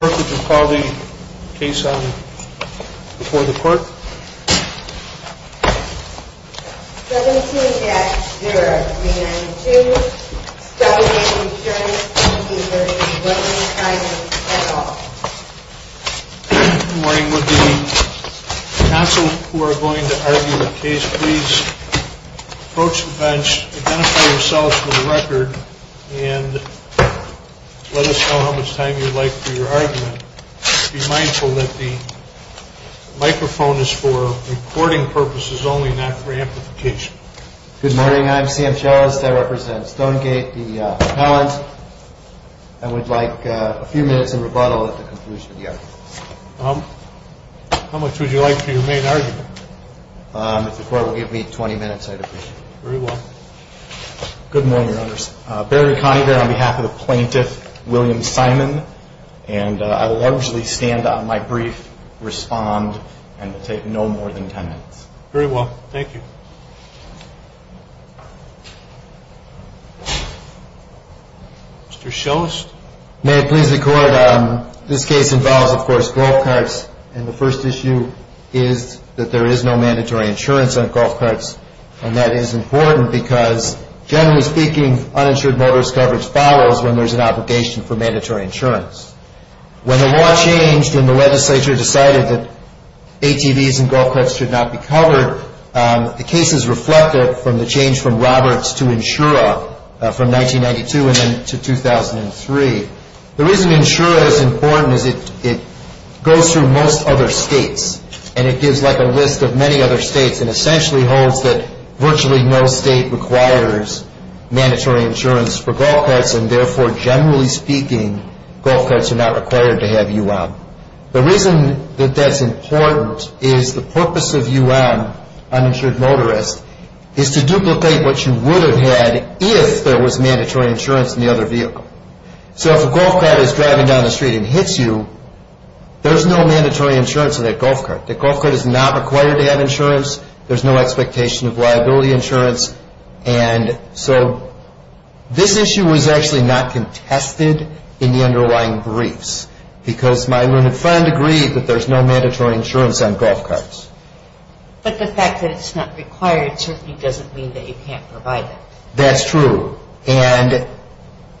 Good morning. Would the counsel who are going to argue the case please approach the bench, identify yourselves for the record, and let us know how much time you'd like for your argument, and if you have any questions, please let us know. Be mindful that the microphone is for recording purposes only, not for amplification. Good morning. I'm Sam Chellis. I represent Stonegate, the appellant, and would like a few minutes of rebuttal at the conclusion of the argument. How much would you like for your main argument? If the court will give me 20 minutes, I'd appreciate it. Very well. Good morning, Your Honors. Barry Conagher on behalf of the plaintiff, William Simon, and I will largely stand on my brief, respond, and take no more than 10 minutes. Very well. Thank you. Mr. Chellis? May it please the Court, this case involves, of course, golf carts, and the first issue is that there is no mandatory insurance on golf carts, and that is important because, generally speaking, uninsured motorist coverage follows when there's an obligation for mandatory insurance. When the law changed and the legislature decided that ATVs and golf carts should not be covered, the case is reflected from the change from Roberts to Insura from 1992 and then to 2003. The reason Insura is important is it goes through most other states, and it gives like a list of many other states and essentially holds that virtually no state requires mandatory insurance for golf carts, and therefore, generally speaking, golf carts are not required to have UM. The reason that that's important is the purpose of UM, uninsured motorist, is to duplicate what you would have had if there was mandatory insurance in the other vehicle. So if a golf cart is driving down the street and hits you, there's no mandatory insurance on that golf cart. That golf cart is not required to have insurance. There's no expectation of liability insurance, and so this issue was actually not contested in the underlying briefs because my limited friend agreed that there's no mandatory insurance on golf carts. But the fact that it's not required certainly doesn't mean that you can't provide it. That's true, and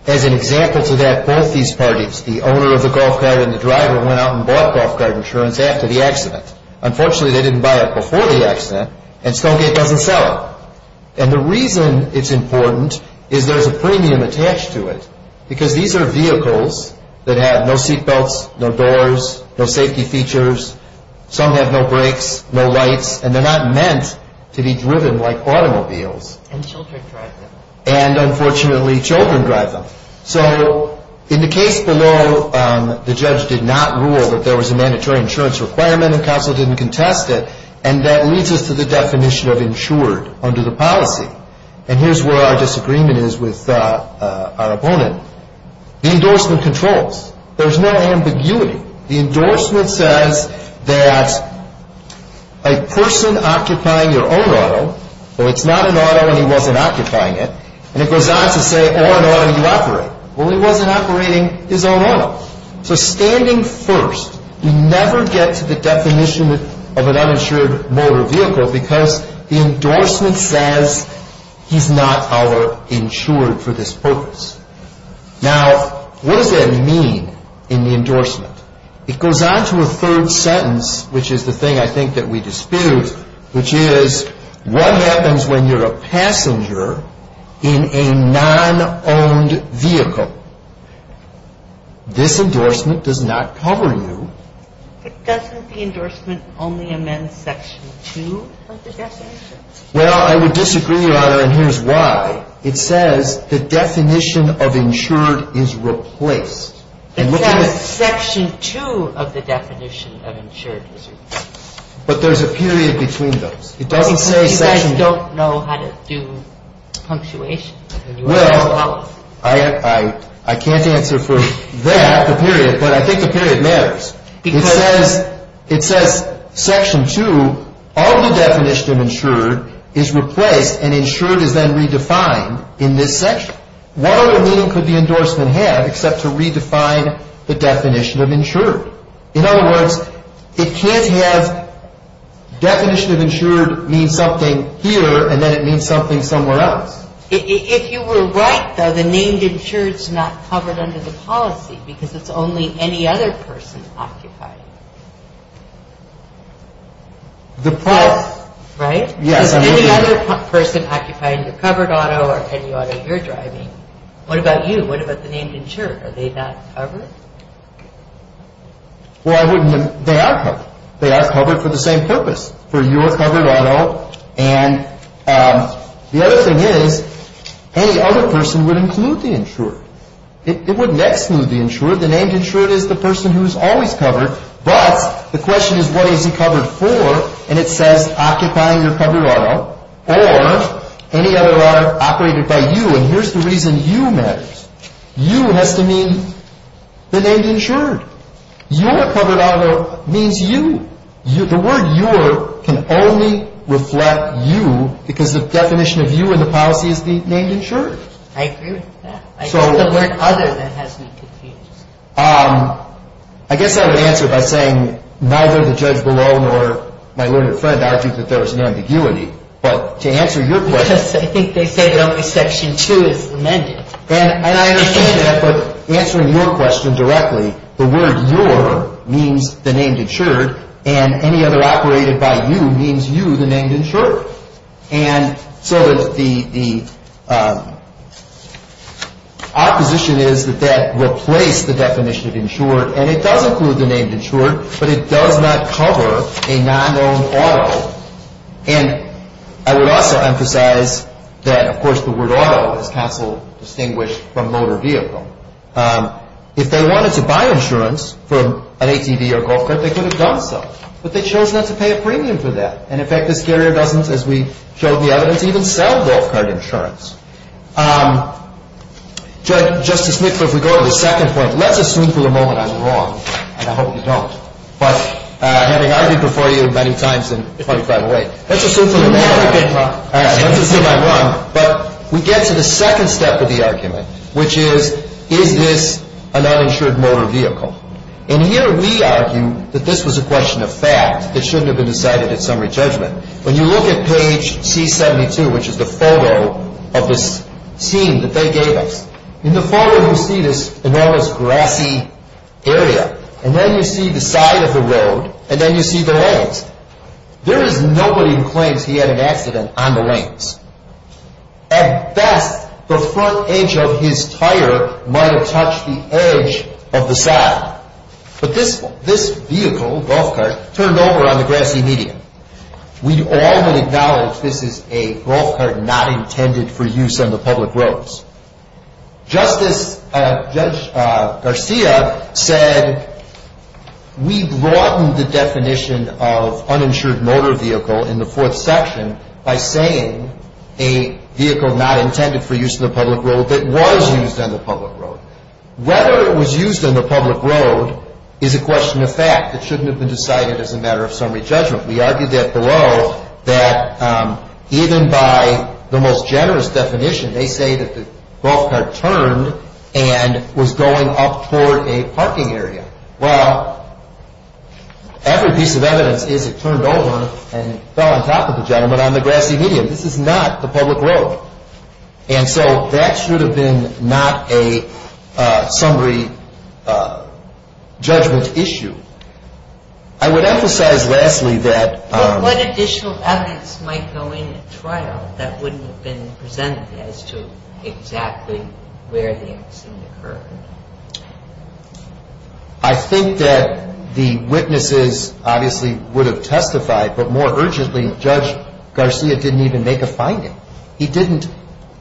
as an example to that, both these parties, the owner of the golf cart and the driver, went out and bought golf cart insurance after the accident. Unfortunately, they didn't buy it before the accident, and Stonegate doesn't sell it. And the reason it's important is there's a premium attached to it because these are vehicles that have no seat belts, no doors, no safety features. Some have no brakes, no lights, and they're not meant to be driven like automobiles. And children drive them. And unfortunately, children drive them. So in the case below, the judge did not rule that there was a mandatory insurance requirement, and counsel didn't contest it, and that leads us to the definition of insured under the policy. And here's where our disagreement is with our opponent. The endorsement controls. There's no ambiguity. The endorsement says that a person occupying your own auto, well, it's not an auto and he wasn't occupying it, and it goes on to say, or an auto you operate. Well, he wasn't operating his own auto. So standing first, we never get to the definition of an uninsured motor vehicle because the endorsement says he's not our insured for this purpose. Now, what does that mean in the endorsement? It goes on to a third sentence, which is the thing I think that we dispute, which is what happens when you're a passenger in a non-owned vehicle? This endorsement does not cover you. But doesn't the endorsement only amend Section 2 of the definition? Well, I would disagree, Your Honor, and here's why. It says the definition of insured is replaced. It says Section 2 of the definition of insured is replaced. But there's a period between those. It doesn't say Section 2. You guys don't know how to do punctuation. Well, I can't answer for that, the period, but I think the period matters. It says Section 2 of the definition of insured is replaced and insured is then redefined in this section. What other meaning could the endorsement have except to redefine the definition of insured? In other words, it can't have definition of insured means something here and then it means something somewhere else. If you were right, though, the name insured is not covered under the policy because it's only any other person occupying it. Right? Yes. Any other person occupying your covered auto or any auto you're driving. What about you? What about the name insured? Are they not covered? Well, they are covered. They are covered for the same purpose, for your covered auto, and the other thing is any other person would include the insured. It wouldn't exclude the insured. The name insured is the person who is always covered, but the question is what is he covered for, and it says occupying your covered auto or any other auto operated by you, and here's the reason you matter. You has to mean the name insured. Your covered auto means you. The word your can only reflect you because the definition of you in the policy is the name insured. I agree with that. I think the word other than has me confused. I guess I would answer by saying neither the judge below nor my learned friend argued that there was an ambiguity, but to answer your question. Yes, I think they say that only Section 2 is amended. And I understand that, but answering your question directly, the word your means the name insured, and any other operated by you means you, the name insured, and so the opposition is that that replaced the definition of insured, and it does include the name insured, but it does not cover a non-owned auto, and I would also emphasize that, of course, the word auto is constantly distinguished from motor vehicle. If they wanted to buy insurance from an ATV or golf cart, they could have done so, but they chose not to pay a premium for that, and, in fact, this carrier doesn't, as we showed in the evidence, even sell golf cart insurance. Judge, Justice Nichol, if we go to the second point, let's assume for the moment I'm wrong, and I hope you don't, but having argued before you many times in 2508, let's assume I'm wrong, but we get to the second step of the argument, which is, is this an uninsured motor vehicle? And here we argue that this was a question of fact. It shouldn't have been decided at summary judgment. When you look at page C72, which is the photo of this scene that they gave us, in the photo you see this enormous grassy area, and then you see the side of the road, and then you see the lanes. There is nobody who claims he had an accident on the lanes. At best, the front edge of his tire might have touched the edge of the side, but this vehicle, golf cart, turned over on the grassy median. We all would acknowledge this is a golf cart not intended for use on the public roads. Justice, Judge Garcia said, we broadened the definition of uninsured motor vehicle in the fourth section by saying a vehicle not intended for use on the public road that was used on the public road. Whether it was used on the public road is a question of fact. It shouldn't have been decided as a matter of summary judgment. We argued that below, that even by the most generous definition, they say that the golf cart turned and was going up toward a parking area. Well, every piece of evidence is it turned over and fell on top of the gentleman on the grassy median. This is not the public road. And so that should have been not a summary judgment issue. I would emphasize lastly that... I think that the witnesses obviously would have testified, but more urgently, Judge Garcia didn't even make a finding. He didn't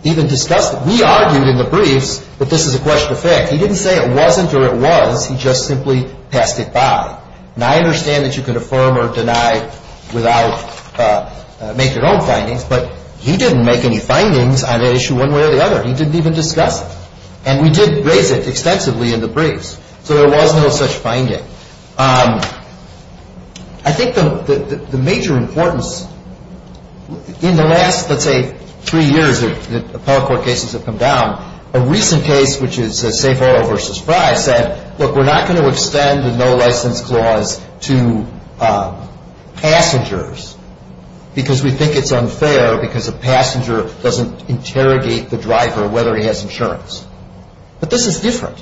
even discuss it. We argued in the briefs that this is a question of fact. He didn't say it wasn't or it was. He just simply passed it by. Now, I understand that you can affirm or deny without making your own findings, but one way or the other, he didn't even discuss it. And we did raise it extensively in the briefs. So there was no such finding. I think the major importance in the last, let's say, three years that appellate court cases have come down, a recent case, which is Safe Auto v. Fry, said, look, we're not going to extend the no license clause to passengers because we think it's unfair because a passenger doesn't interrogate the driver whether he has insurance. But this is different.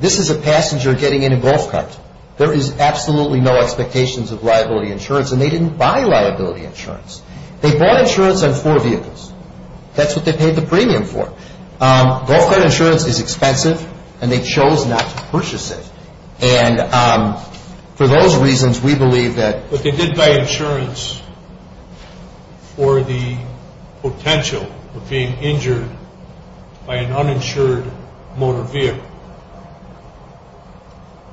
This is a passenger getting in a golf cart. There is absolutely no expectations of liability insurance, and they didn't buy liability insurance. They bought insurance on four vehicles. That's what they paid the premium for. Golf cart insurance is expensive, and they chose not to purchase it. And for those reasons, we believe that... What is the potential of being injured by an uninsured motor vehicle?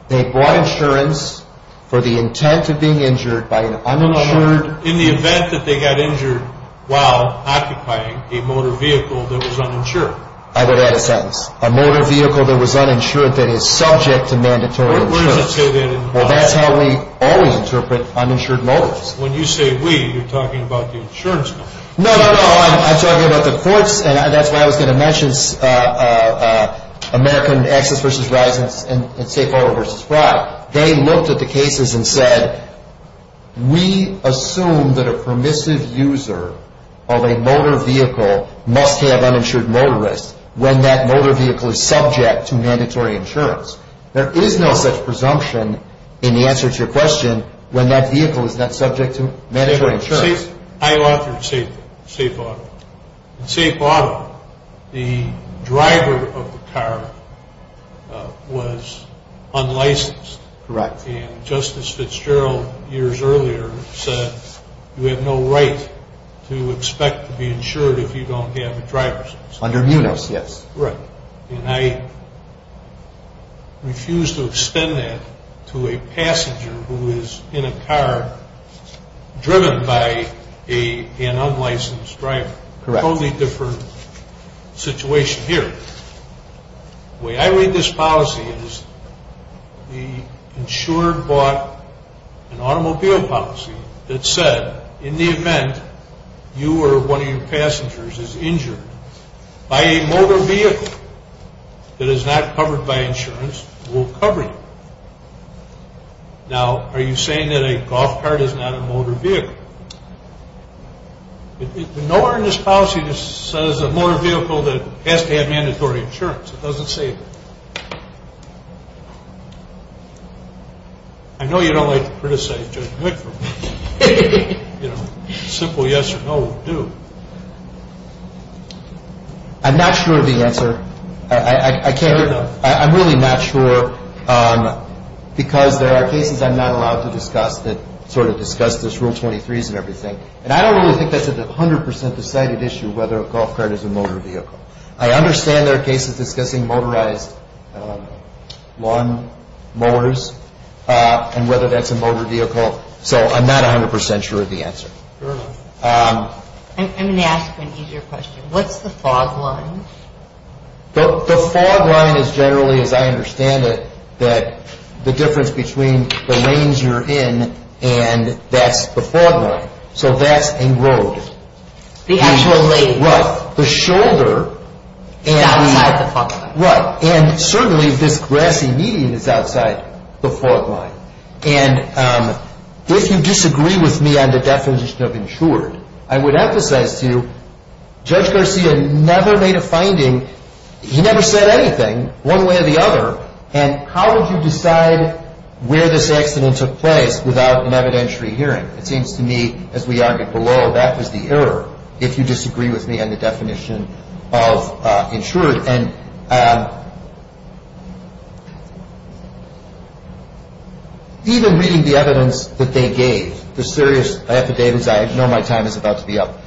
They bought insurance for the intent of being injured by an uninsured... In the event that they got injured while occupying a motor vehicle that was uninsured. I would add a sentence. A motor vehicle that was uninsured that is subject to mandatory insurance. Well, that's how we always interpret uninsured motors. When you say we, you're talking about the insurance company. No, no, no, I'm talking about the courts, and that's why I was going to mention American Access v. Risen and State Farm v. Fry. They looked at the cases and said, we assume that a permissive user of a motor vehicle must have uninsured motorists when that motor vehicle is subject to mandatory insurance. There is no such presumption in the answer to your question when that vehicle is not subject to mandatory insurance. I authored Safe Auto. In Safe Auto, the driver of the car was unlicensed. Correct. And Justice Fitzgerald years earlier said, you have no right to expect to be insured if you don't have a driver's license. Under MUNOS, yes. Right. And I refuse to extend that to a passenger who is in a car driven by an unlicensed driver. Correct. Totally different situation here. The way I read this policy is the insurer bought an automobile policy that said, in the event you or one of your passengers is injured by a motor vehicle that is not covered by insurance, we'll cover you. Now, are you saying that a golf cart is not a motor vehicle? Nowhere in this policy says a motor vehicle has to have mandatory insurance. It doesn't say that. I know you don't like to criticize Judge Whitver. Simple yes or no will do. I'm not sure of the answer. I'm really not sure because there are cases I'm not allowed to discuss that sort of discuss this Rule 23s and everything, and I don't really think that's a 100% decided issue whether a golf cart is a motor vehicle. I understand there are cases discussing motorized lawn mowers and whether that's a motor vehicle. So I'm not 100% sure of the answer. I'm going to ask you an easier question. What's the fog line? The fog line is generally, as I understand it, that the difference between the lanes you're in and that's the fog line. So that's a road. The actual lane. Right. The shoulder. Is outside the fog line. Right. And certainly this grassy median is outside the fog line. And if you disagree with me on the definition of insured, I would emphasize to you Judge Garcia never made a finding. He never said anything one way or the other, and how would you decide where this accident took place without an evidentiary hearing? It seems to me, as we argued below, that was the error, if you disagree with me on the definition of insured. And even reading the evidence that they gave, the serious affidavits, I know my time is about to be up.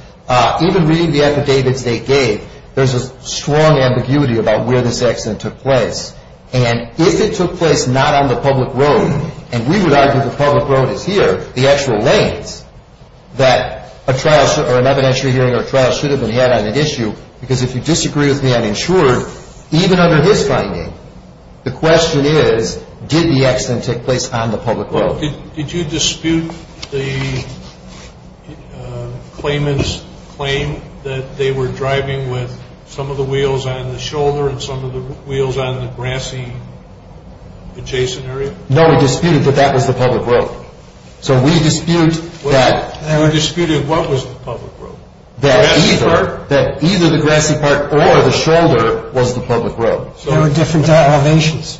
Even reading the affidavits they gave, there's a strong ambiguity about where this accident took place. And if it took place not on the public road, and we would argue the public road is here, the actual lanes, that an evidentiary hearing or trial should have been had on an issue, because if you disagree with me on insured, even under his finding, the question is did the accident take place on the public road? Did you dispute the claimant's claim that they were driving with some of the wheels on the shoulder and some of the wheels on the grassy adjacent area? No, we disputed that that was the public road. So we dispute that... We disputed what was the public road? That either the grassy part or the shoulder was the public road. There were different elevations.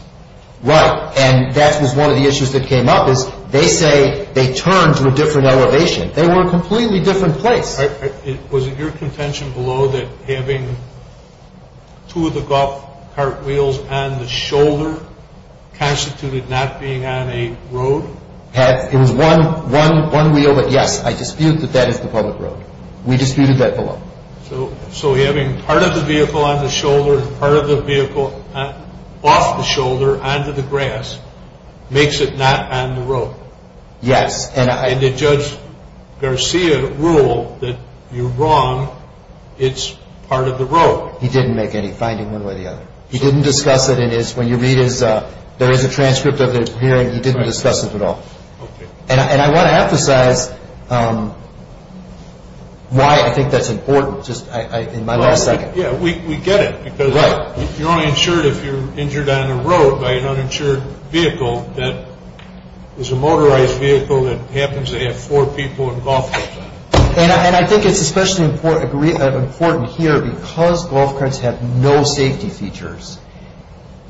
Right, and that was one of the issues that came up, is they say they turned to a different elevation. They were a completely different place. Was it your contention below that having two of the golf cart wheels and the shoulder constituted not being on a road? It was one wheel, but yes, I dispute that that is the public road. We disputed that below. So having part of the vehicle on the shoulder and part of the vehicle off the shoulder onto the grass makes it not on the road? Yes. And did Judge Garcia rule that you're wrong, it's part of the road? He didn't make any finding one way or the other. He didn't discuss it in his, when you read his, there is a transcript of it here, and he didn't discuss it at all. And I want to emphasize why I think that's important, just in my last second. Yeah, we get it, because you're only insured if you're injured on the road by an uninsured vehicle that is a motorized vehicle that happens to have four people and golf clubs on it. And I think it's especially important here because golf carts have no safety features.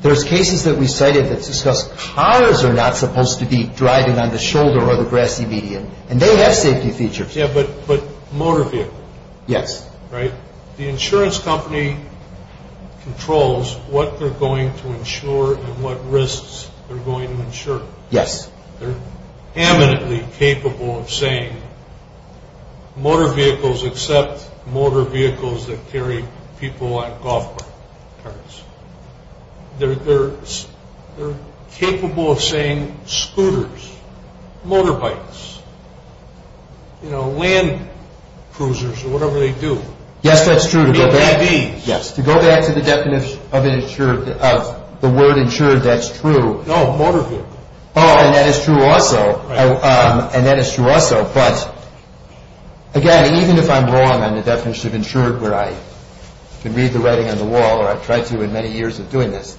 There's cases that we cited that discuss cars are not supposed to be driving on the shoulder or the grassy median, and they have safety features. Yeah, but motor vehicle. Yes. Right? The insurance company controls what they're going to insure and what risks they're going to insure. Yes. They're eminently capable of saying motor vehicles except motor vehicles that carry people on golf carts. They're capable of saying scooters, motorbikes, you know, land cruisers or whatever they do. Yes, that's true. To go back to the definition of the word insured, that's true. No, motor vehicle. Oh, and that is true also. Right. And that is true also. But, again, even if I'm wrong on the definition of insured where I can read the writing on the wall, or I've tried to in many years of doing this,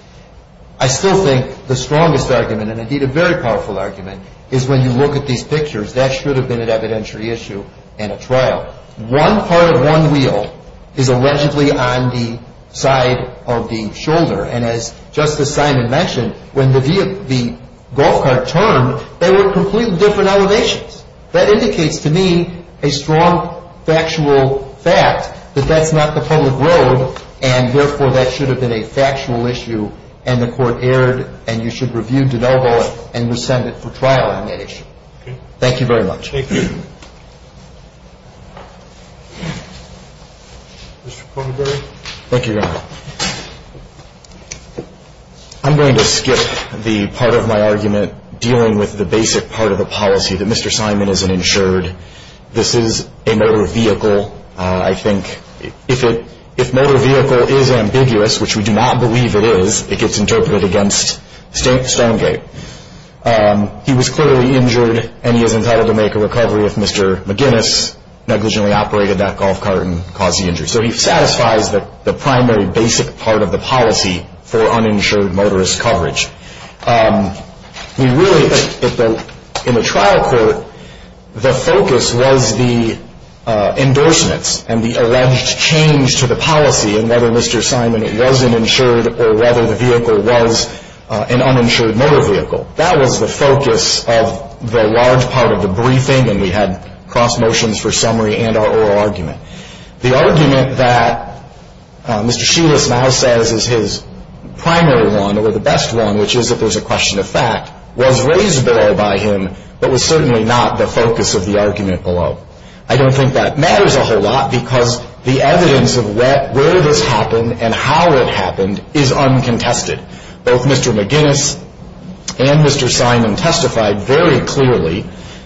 I still think the strongest argument, and indeed a very powerful argument, is when you look at these pictures, that should have been an evidentiary issue in a trial. One part of one wheel is allegedly on the side of the shoulder. And as Justice Simon mentioned, when the golf cart turned, there were completely different elevations. That indicates to me a strong factual fact that that's not the public road, and, therefore, that should have been a factual issue, and the Court erred, and you should review DeNovo and rescind it for trial on that issue. Okay. Thank you very much. Mr. Kornberg. Thank you, Your Honor. I'm going to skip the part of my argument dealing with the basic part of the policy, that Mr. Simon is an insured. This is a motor vehicle. I think if motor vehicle is ambiguous, which we do not believe it is, it gets interpreted against Stonegate. He was clearly injured, and he is entitled to make a recovery if Mr. McGinnis negligently operated that golf cart and caused the injury. So he satisfies the primary basic part of the policy for uninsured motorist coverage. We really, in the trial court, the focus was the endorsements and the alleged change to the policy in whether Mr. Simon was an insured or whether the vehicle was an uninsured motor vehicle. That was the focus of the large part of the briefing, and we had cross motions for summary and our oral argument. The argument that Mr. Shulis now says is his primary one or the best one, which is if there's a question of fact, was raised below by him but was certainly not the focus of the argument below. I don't think that matters a whole lot because the evidence of where this happened and how it happened is uncontested. Both Mr. McGinnis and Mr. Simon testified very clearly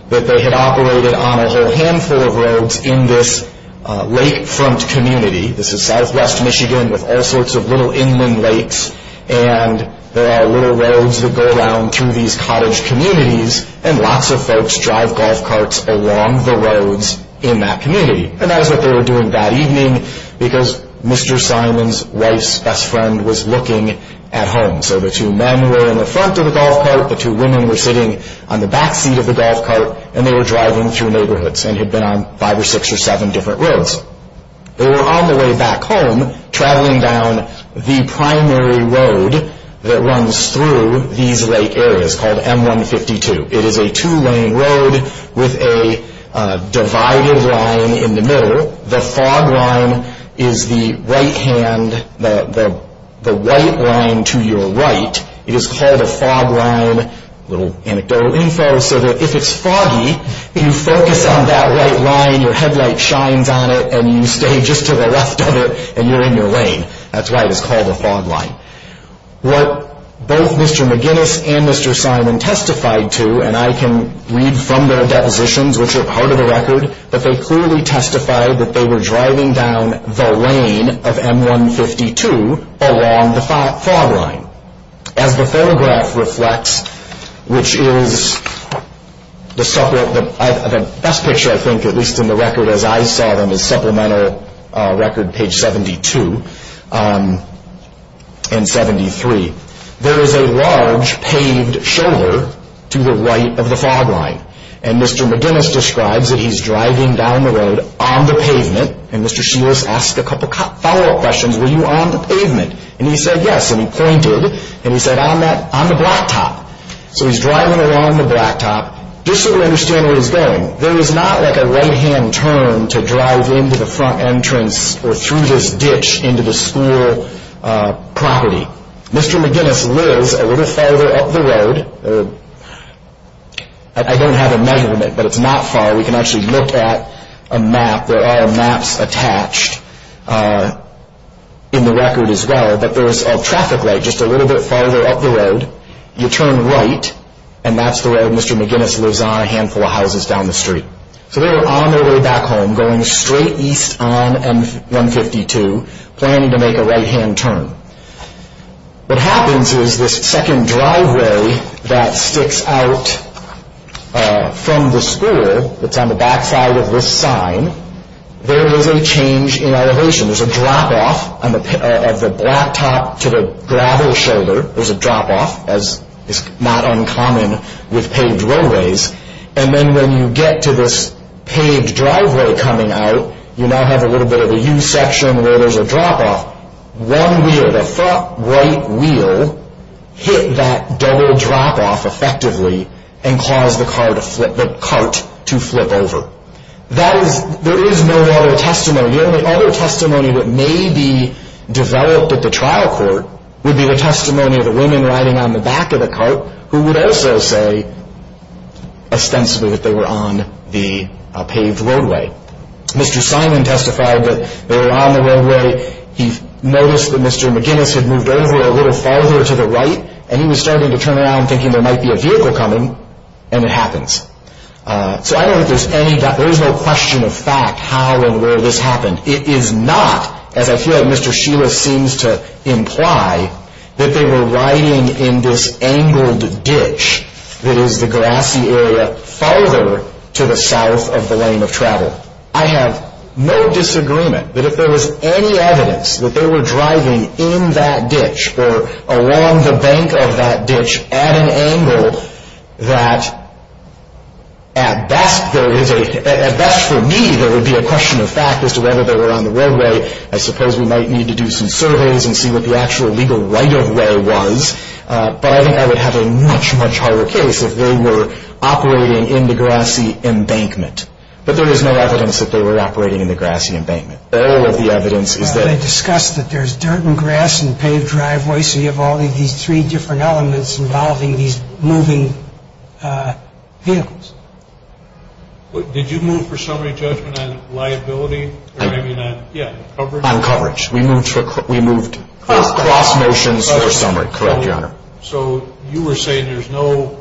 that they had operated on a whole handful of roads in this lakefront community. This is southwest Michigan with all sorts of little inland lakes, and there are little roads that go around through these cottage communities, and lots of folks drive golf carts along the roads in that community. And that is what they were doing that evening because Mr. Simon's wife's best friend was looking at home. So the two men were in the front of the golf cart, the two women were sitting on the back seat of the golf cart, and they were driving through neighborhoods and had been on five or six or seven different roads. They were on the way back home traveling down the primary road that runs through these lake areas called M-152. It is a two-lane road with a divided line in the middle. The fog line is the right hand, the white line to your right. It is called a fog line, a little anecdotal info, so that if it's foggy, you focus on that white line, your headlight shines on it, and you stay just to the left of it, and you're in your lane. That's why it is called a fog line. What both Mr. McGinnis and Mr. Simon testified to, and I can read from their depositions, which are part of the record, but they clearly testified that they were driving down the lane of M-152 along the fog line. As the photograph reflects, which is the best picture, I think, at least in the record as I saw them as supplemental record, page 72 and 73, there is a large paved shoulder to the right of the fog line, and Mr. McGinnis describes that he's driving down the road on the pavement, and Mr. Sheilas asked a couple of follow-up questions, were you on the pavement? And he said yes, and he pointed, and he said, I'm on the blacktop. So he's driving along the blacktop. Just so we understand where he's going, there is not like a right-hand turn to drive into the front entrance or through this ditch into the school property. Mr. McGinnis lives a little farther up the road. I don't have a measurement, but it's not far. We can actually look at a map. There are maps attached in the record as well, but there's a traffic light just a little bit farther up the road. You turn right, and that's the road Mr. McGinnis lives on, a handful of houses down the street. So they're on their way back home, going straight east on M-152, planning to make a right-hand turn. What happens is this second driveway that sticks out from the school, that's on the backside of this sign, there is a change in elevation. There's a drop-off of the blacktop to the gravel shoulder. There's a drop-off, as is not uncommon with paved roadways. And then when you get to this paved driveway coming out, you now have a little bit of a U-section where there's a drop-off. One wheel, the front right wheel, hit that double drop-off effectively and caused the cart to flip over. There is no other testimony. The only other testimony that may be developed at the trial court would be the testimony of the women riding on the back of the cart who would also say ostensibly that they were on the paved roadway. Mr. Simon testified that they were on the roadway. He noticed that Mr. McGinnis had moved over a little farther to the right, and he was starting to turn around thinking there might be a vehicle coming, and it happens. So I don't think there's any doubt. There is no question of fact how and where this happened. It is not, as I feel like Mr. Sheila seems to imply, that they were riding in this angled ditch that is the grassy area farther to the south of the lane of travel. I have no disagreement that if there was any evidence that they were driving in that ditch or along the bank of that ditch at an angle that at best for me there would be a question of fact as to whether they were on the roadway. I suppose we might need to do some surveys and see what the actual legal right-of-way was, but I think I would have a much, much harder case if they were operating in the grassy embankment. But there is no evidence that they were operating in the grassy embankment. All of the evidence is that They discussed that there's dirt and grass and paved driveway, so you have all of these three different elements involving these moving vehicles. Did you move for summary judgment on liability or maybe not? Yeah, on coverage. On coverage. We moved for cross motions for summary. Correct, Your Honor. So you were saying there's no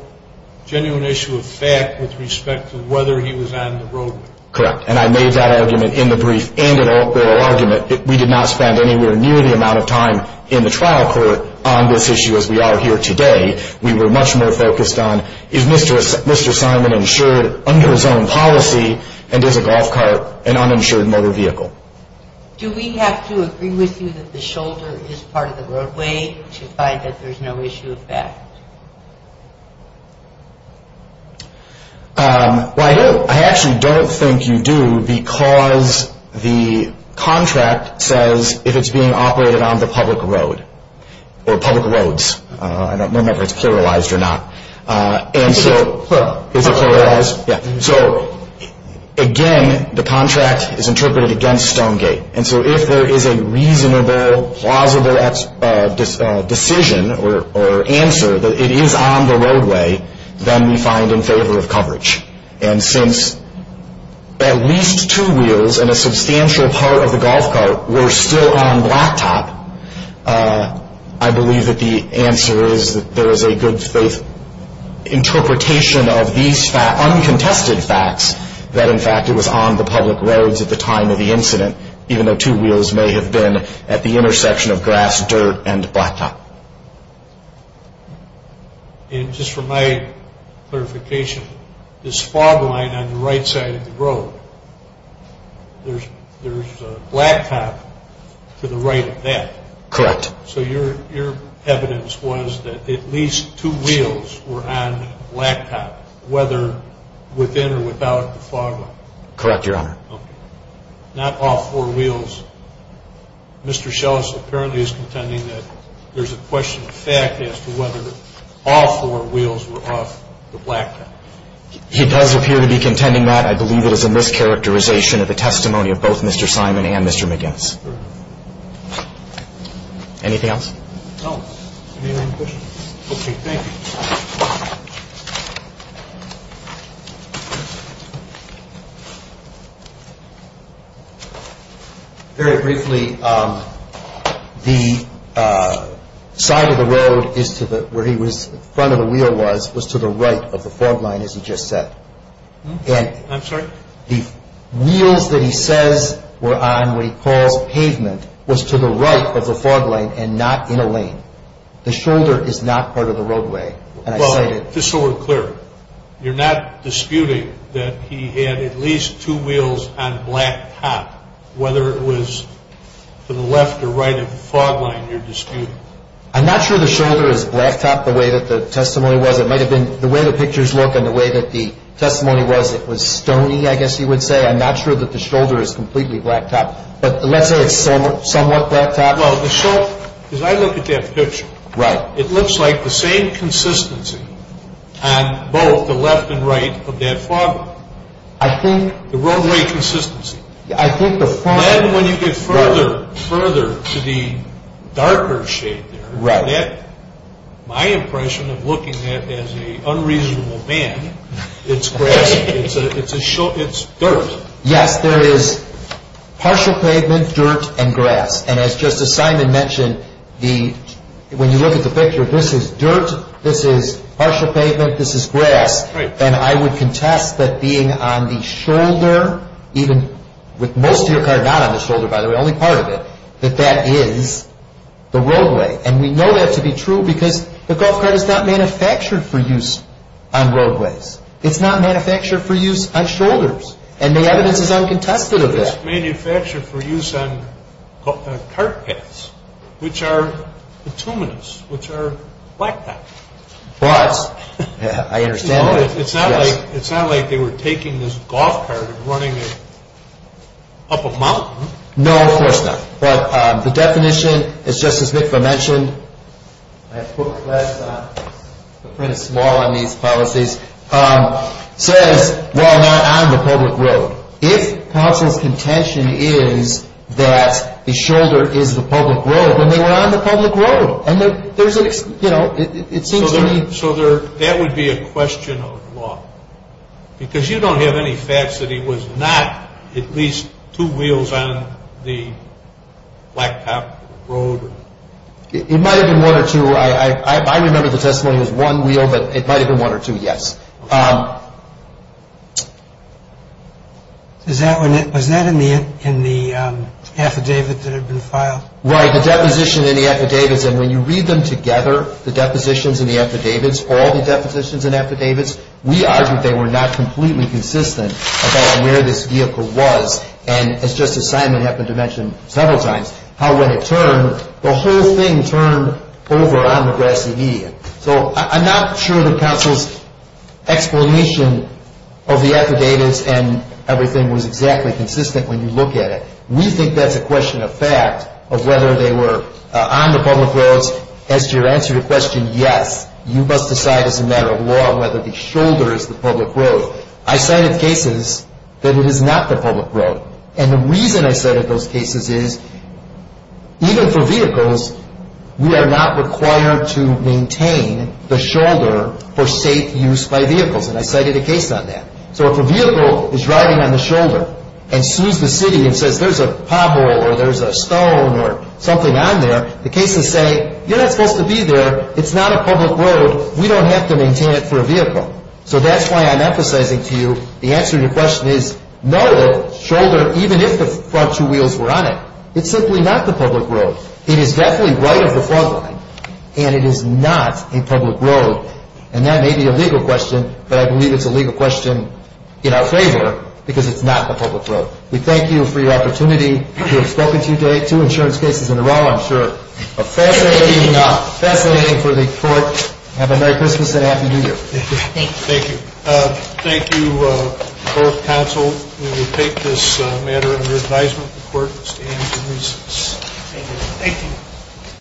genuine issue of fact with respect to whether he was on the roadway. Correct. And I made that argument in the brief and in the oral argument. We did not spend anywhere near the amount of time in the trial court on this issue as we are here today. We were much more focused on is Mr. Simon insured under his own policy and is a golf cart an uninsured motor vehicle? Do we have to agree with you that the shoulder is part of the roadway to find that there's no issue of fact? Well, I actually don't think you do because the contract says if it's being operated on the public road or public roads. I don't remember if it's pluralized or not. It's plural. Is it pluralized? Yeah. So, again, the contract is interpreted against Stonegate. And so if there is a reasonable, plausible decision or answer that it is on the roadway, then we find in favor of coverage. And since at least two wheels and a substantial part of the golf cart were still on blacktop, I believe that the answer is that there is a good faith interpretation of these uncontested facts that, in fact, it was on the public roads at the time of the incident, even though two wheels may have been at the intersection of grass, dirt, and blacktop. And just for my clarification, this fog line on the right side of the road, there's a blacktop to the right of that. Correct. So your evidence was that at least two wheels were on blacktop, whether within or without the fog line? Correct, Your Honor. Okay. Not all four wheels. Mr. Shellis apparently is contending that there's a question of fact as to whether all four wheels were off the blacktop. He does appear to be contending that. I believe it is a mischaracterization of the testimony of both Mr. Simon and Mr. McGinnis. Very good. Anything else? No. Any other questions? Okay, thank you. Thank you. Very briefly, the side of the road where the front of the wheel was was to the right of the fog line, as he just said. I'm sorry? The wheels that he says were on what he calls pavement was to the right of the fog line and not in a lane. The shoulder is not part of the roadway. Just so we're clear, you're not disputing that he had at least two wheels on blacktop, whether it was to the left or right of the fog line you're disputing? I'm not sure the shoulder is blacktop the way that the testimony was. It might have been the way the pictures look and the way that the testimony was, it was stony, I guess you would say. I'm not sure that the shoulder is completely blacktop. But let's say it's somewhat blacktop. Well, the shoulder, as I look at that picture, it looks like the same consistency on both the left and right of that fog line. The roadway consistency. Then when you get further, further to the darker shade there, my impression of looking at it as an unreasonable man, it's dirt. Yes, there is partial pavement, dirt, and grass. And as Justice Simon mentioned, when you look at the picture, this is dirt, this is partial pavement, this is grass. And I would contest that being on the shoulder, even with most of your car not on the shoulder, by the way, only part of it, that that is the roadway. And we know that to be true because the golf cart is not manufactured for use on roadways. It's not manufactured for use on shoulders. And the evidence is uncontested of that. It's manufactured for use on cart paths, which are petunias, which are blacktop. But I understand that. It's not like they were taking this golf cart and running it up a mountain. No, of course not. But the definition, as Justice Mitva mentioned, I put last time, to print a small on these policies, says, while not on the public road, if counsel's contention is that the shoulder is the public road, then they were on the public road. So that would be a question of law. Because you don't have any facts that he was not at least two wheels on the blacktop road. It might have been one or two. I remember the testimony was one wheel, but it might have been one or two, yes. Was that in the affidavit that had been filed? Right, the deposition in the affidavits. And when you read them together, the depositions in the affidavits, all the depositions in affidavits, we argued they were not completely consistent about where this vehicle was. And as Justice Simon happened to mention several times, how when it turned, the whole thing turned over on the grassy median. So I'm not sure that counsel's explanation of the affidavits and everything was exactly consistent when you look at it. We think that's a question of fact of whether they were on the public roads. As to your answer to your question, yes, you must decide as a matter of law whether the shoulder is the public road. I cited cases that it is not the public road. And the reason I cited those cases is even for vehicles, we are not required to maintain the shoulder for safe use by vehicles. And I cited a case on that. So if a vehicle is driving on the shoulder and sees the city and says, there's a pothole or there's a stone or something on there, the cases say, you're not supposed to be there. It's not a public road. We don't have to maintain it for a vehicle. So that's why I'm emphasizing to you the answer to your question is no, the shoulder, even if the front two wheels were on it, it's simply not the public road. It is definitely right of the front line. And it is not a public road. And that may be a legal question, but I believe it's a legal question in our favor because it's not the public road. We thank you for your opportunity. We have spoken to two insurance cases in a row, I'm sure. Fascinating, fascinating for the court. Have a Merry Christmas and a Happy New Year. Thank you. Thank you. Thank you, both counsel. We take this matter under advisement of the court to stand for recess. Thank you. Thank you.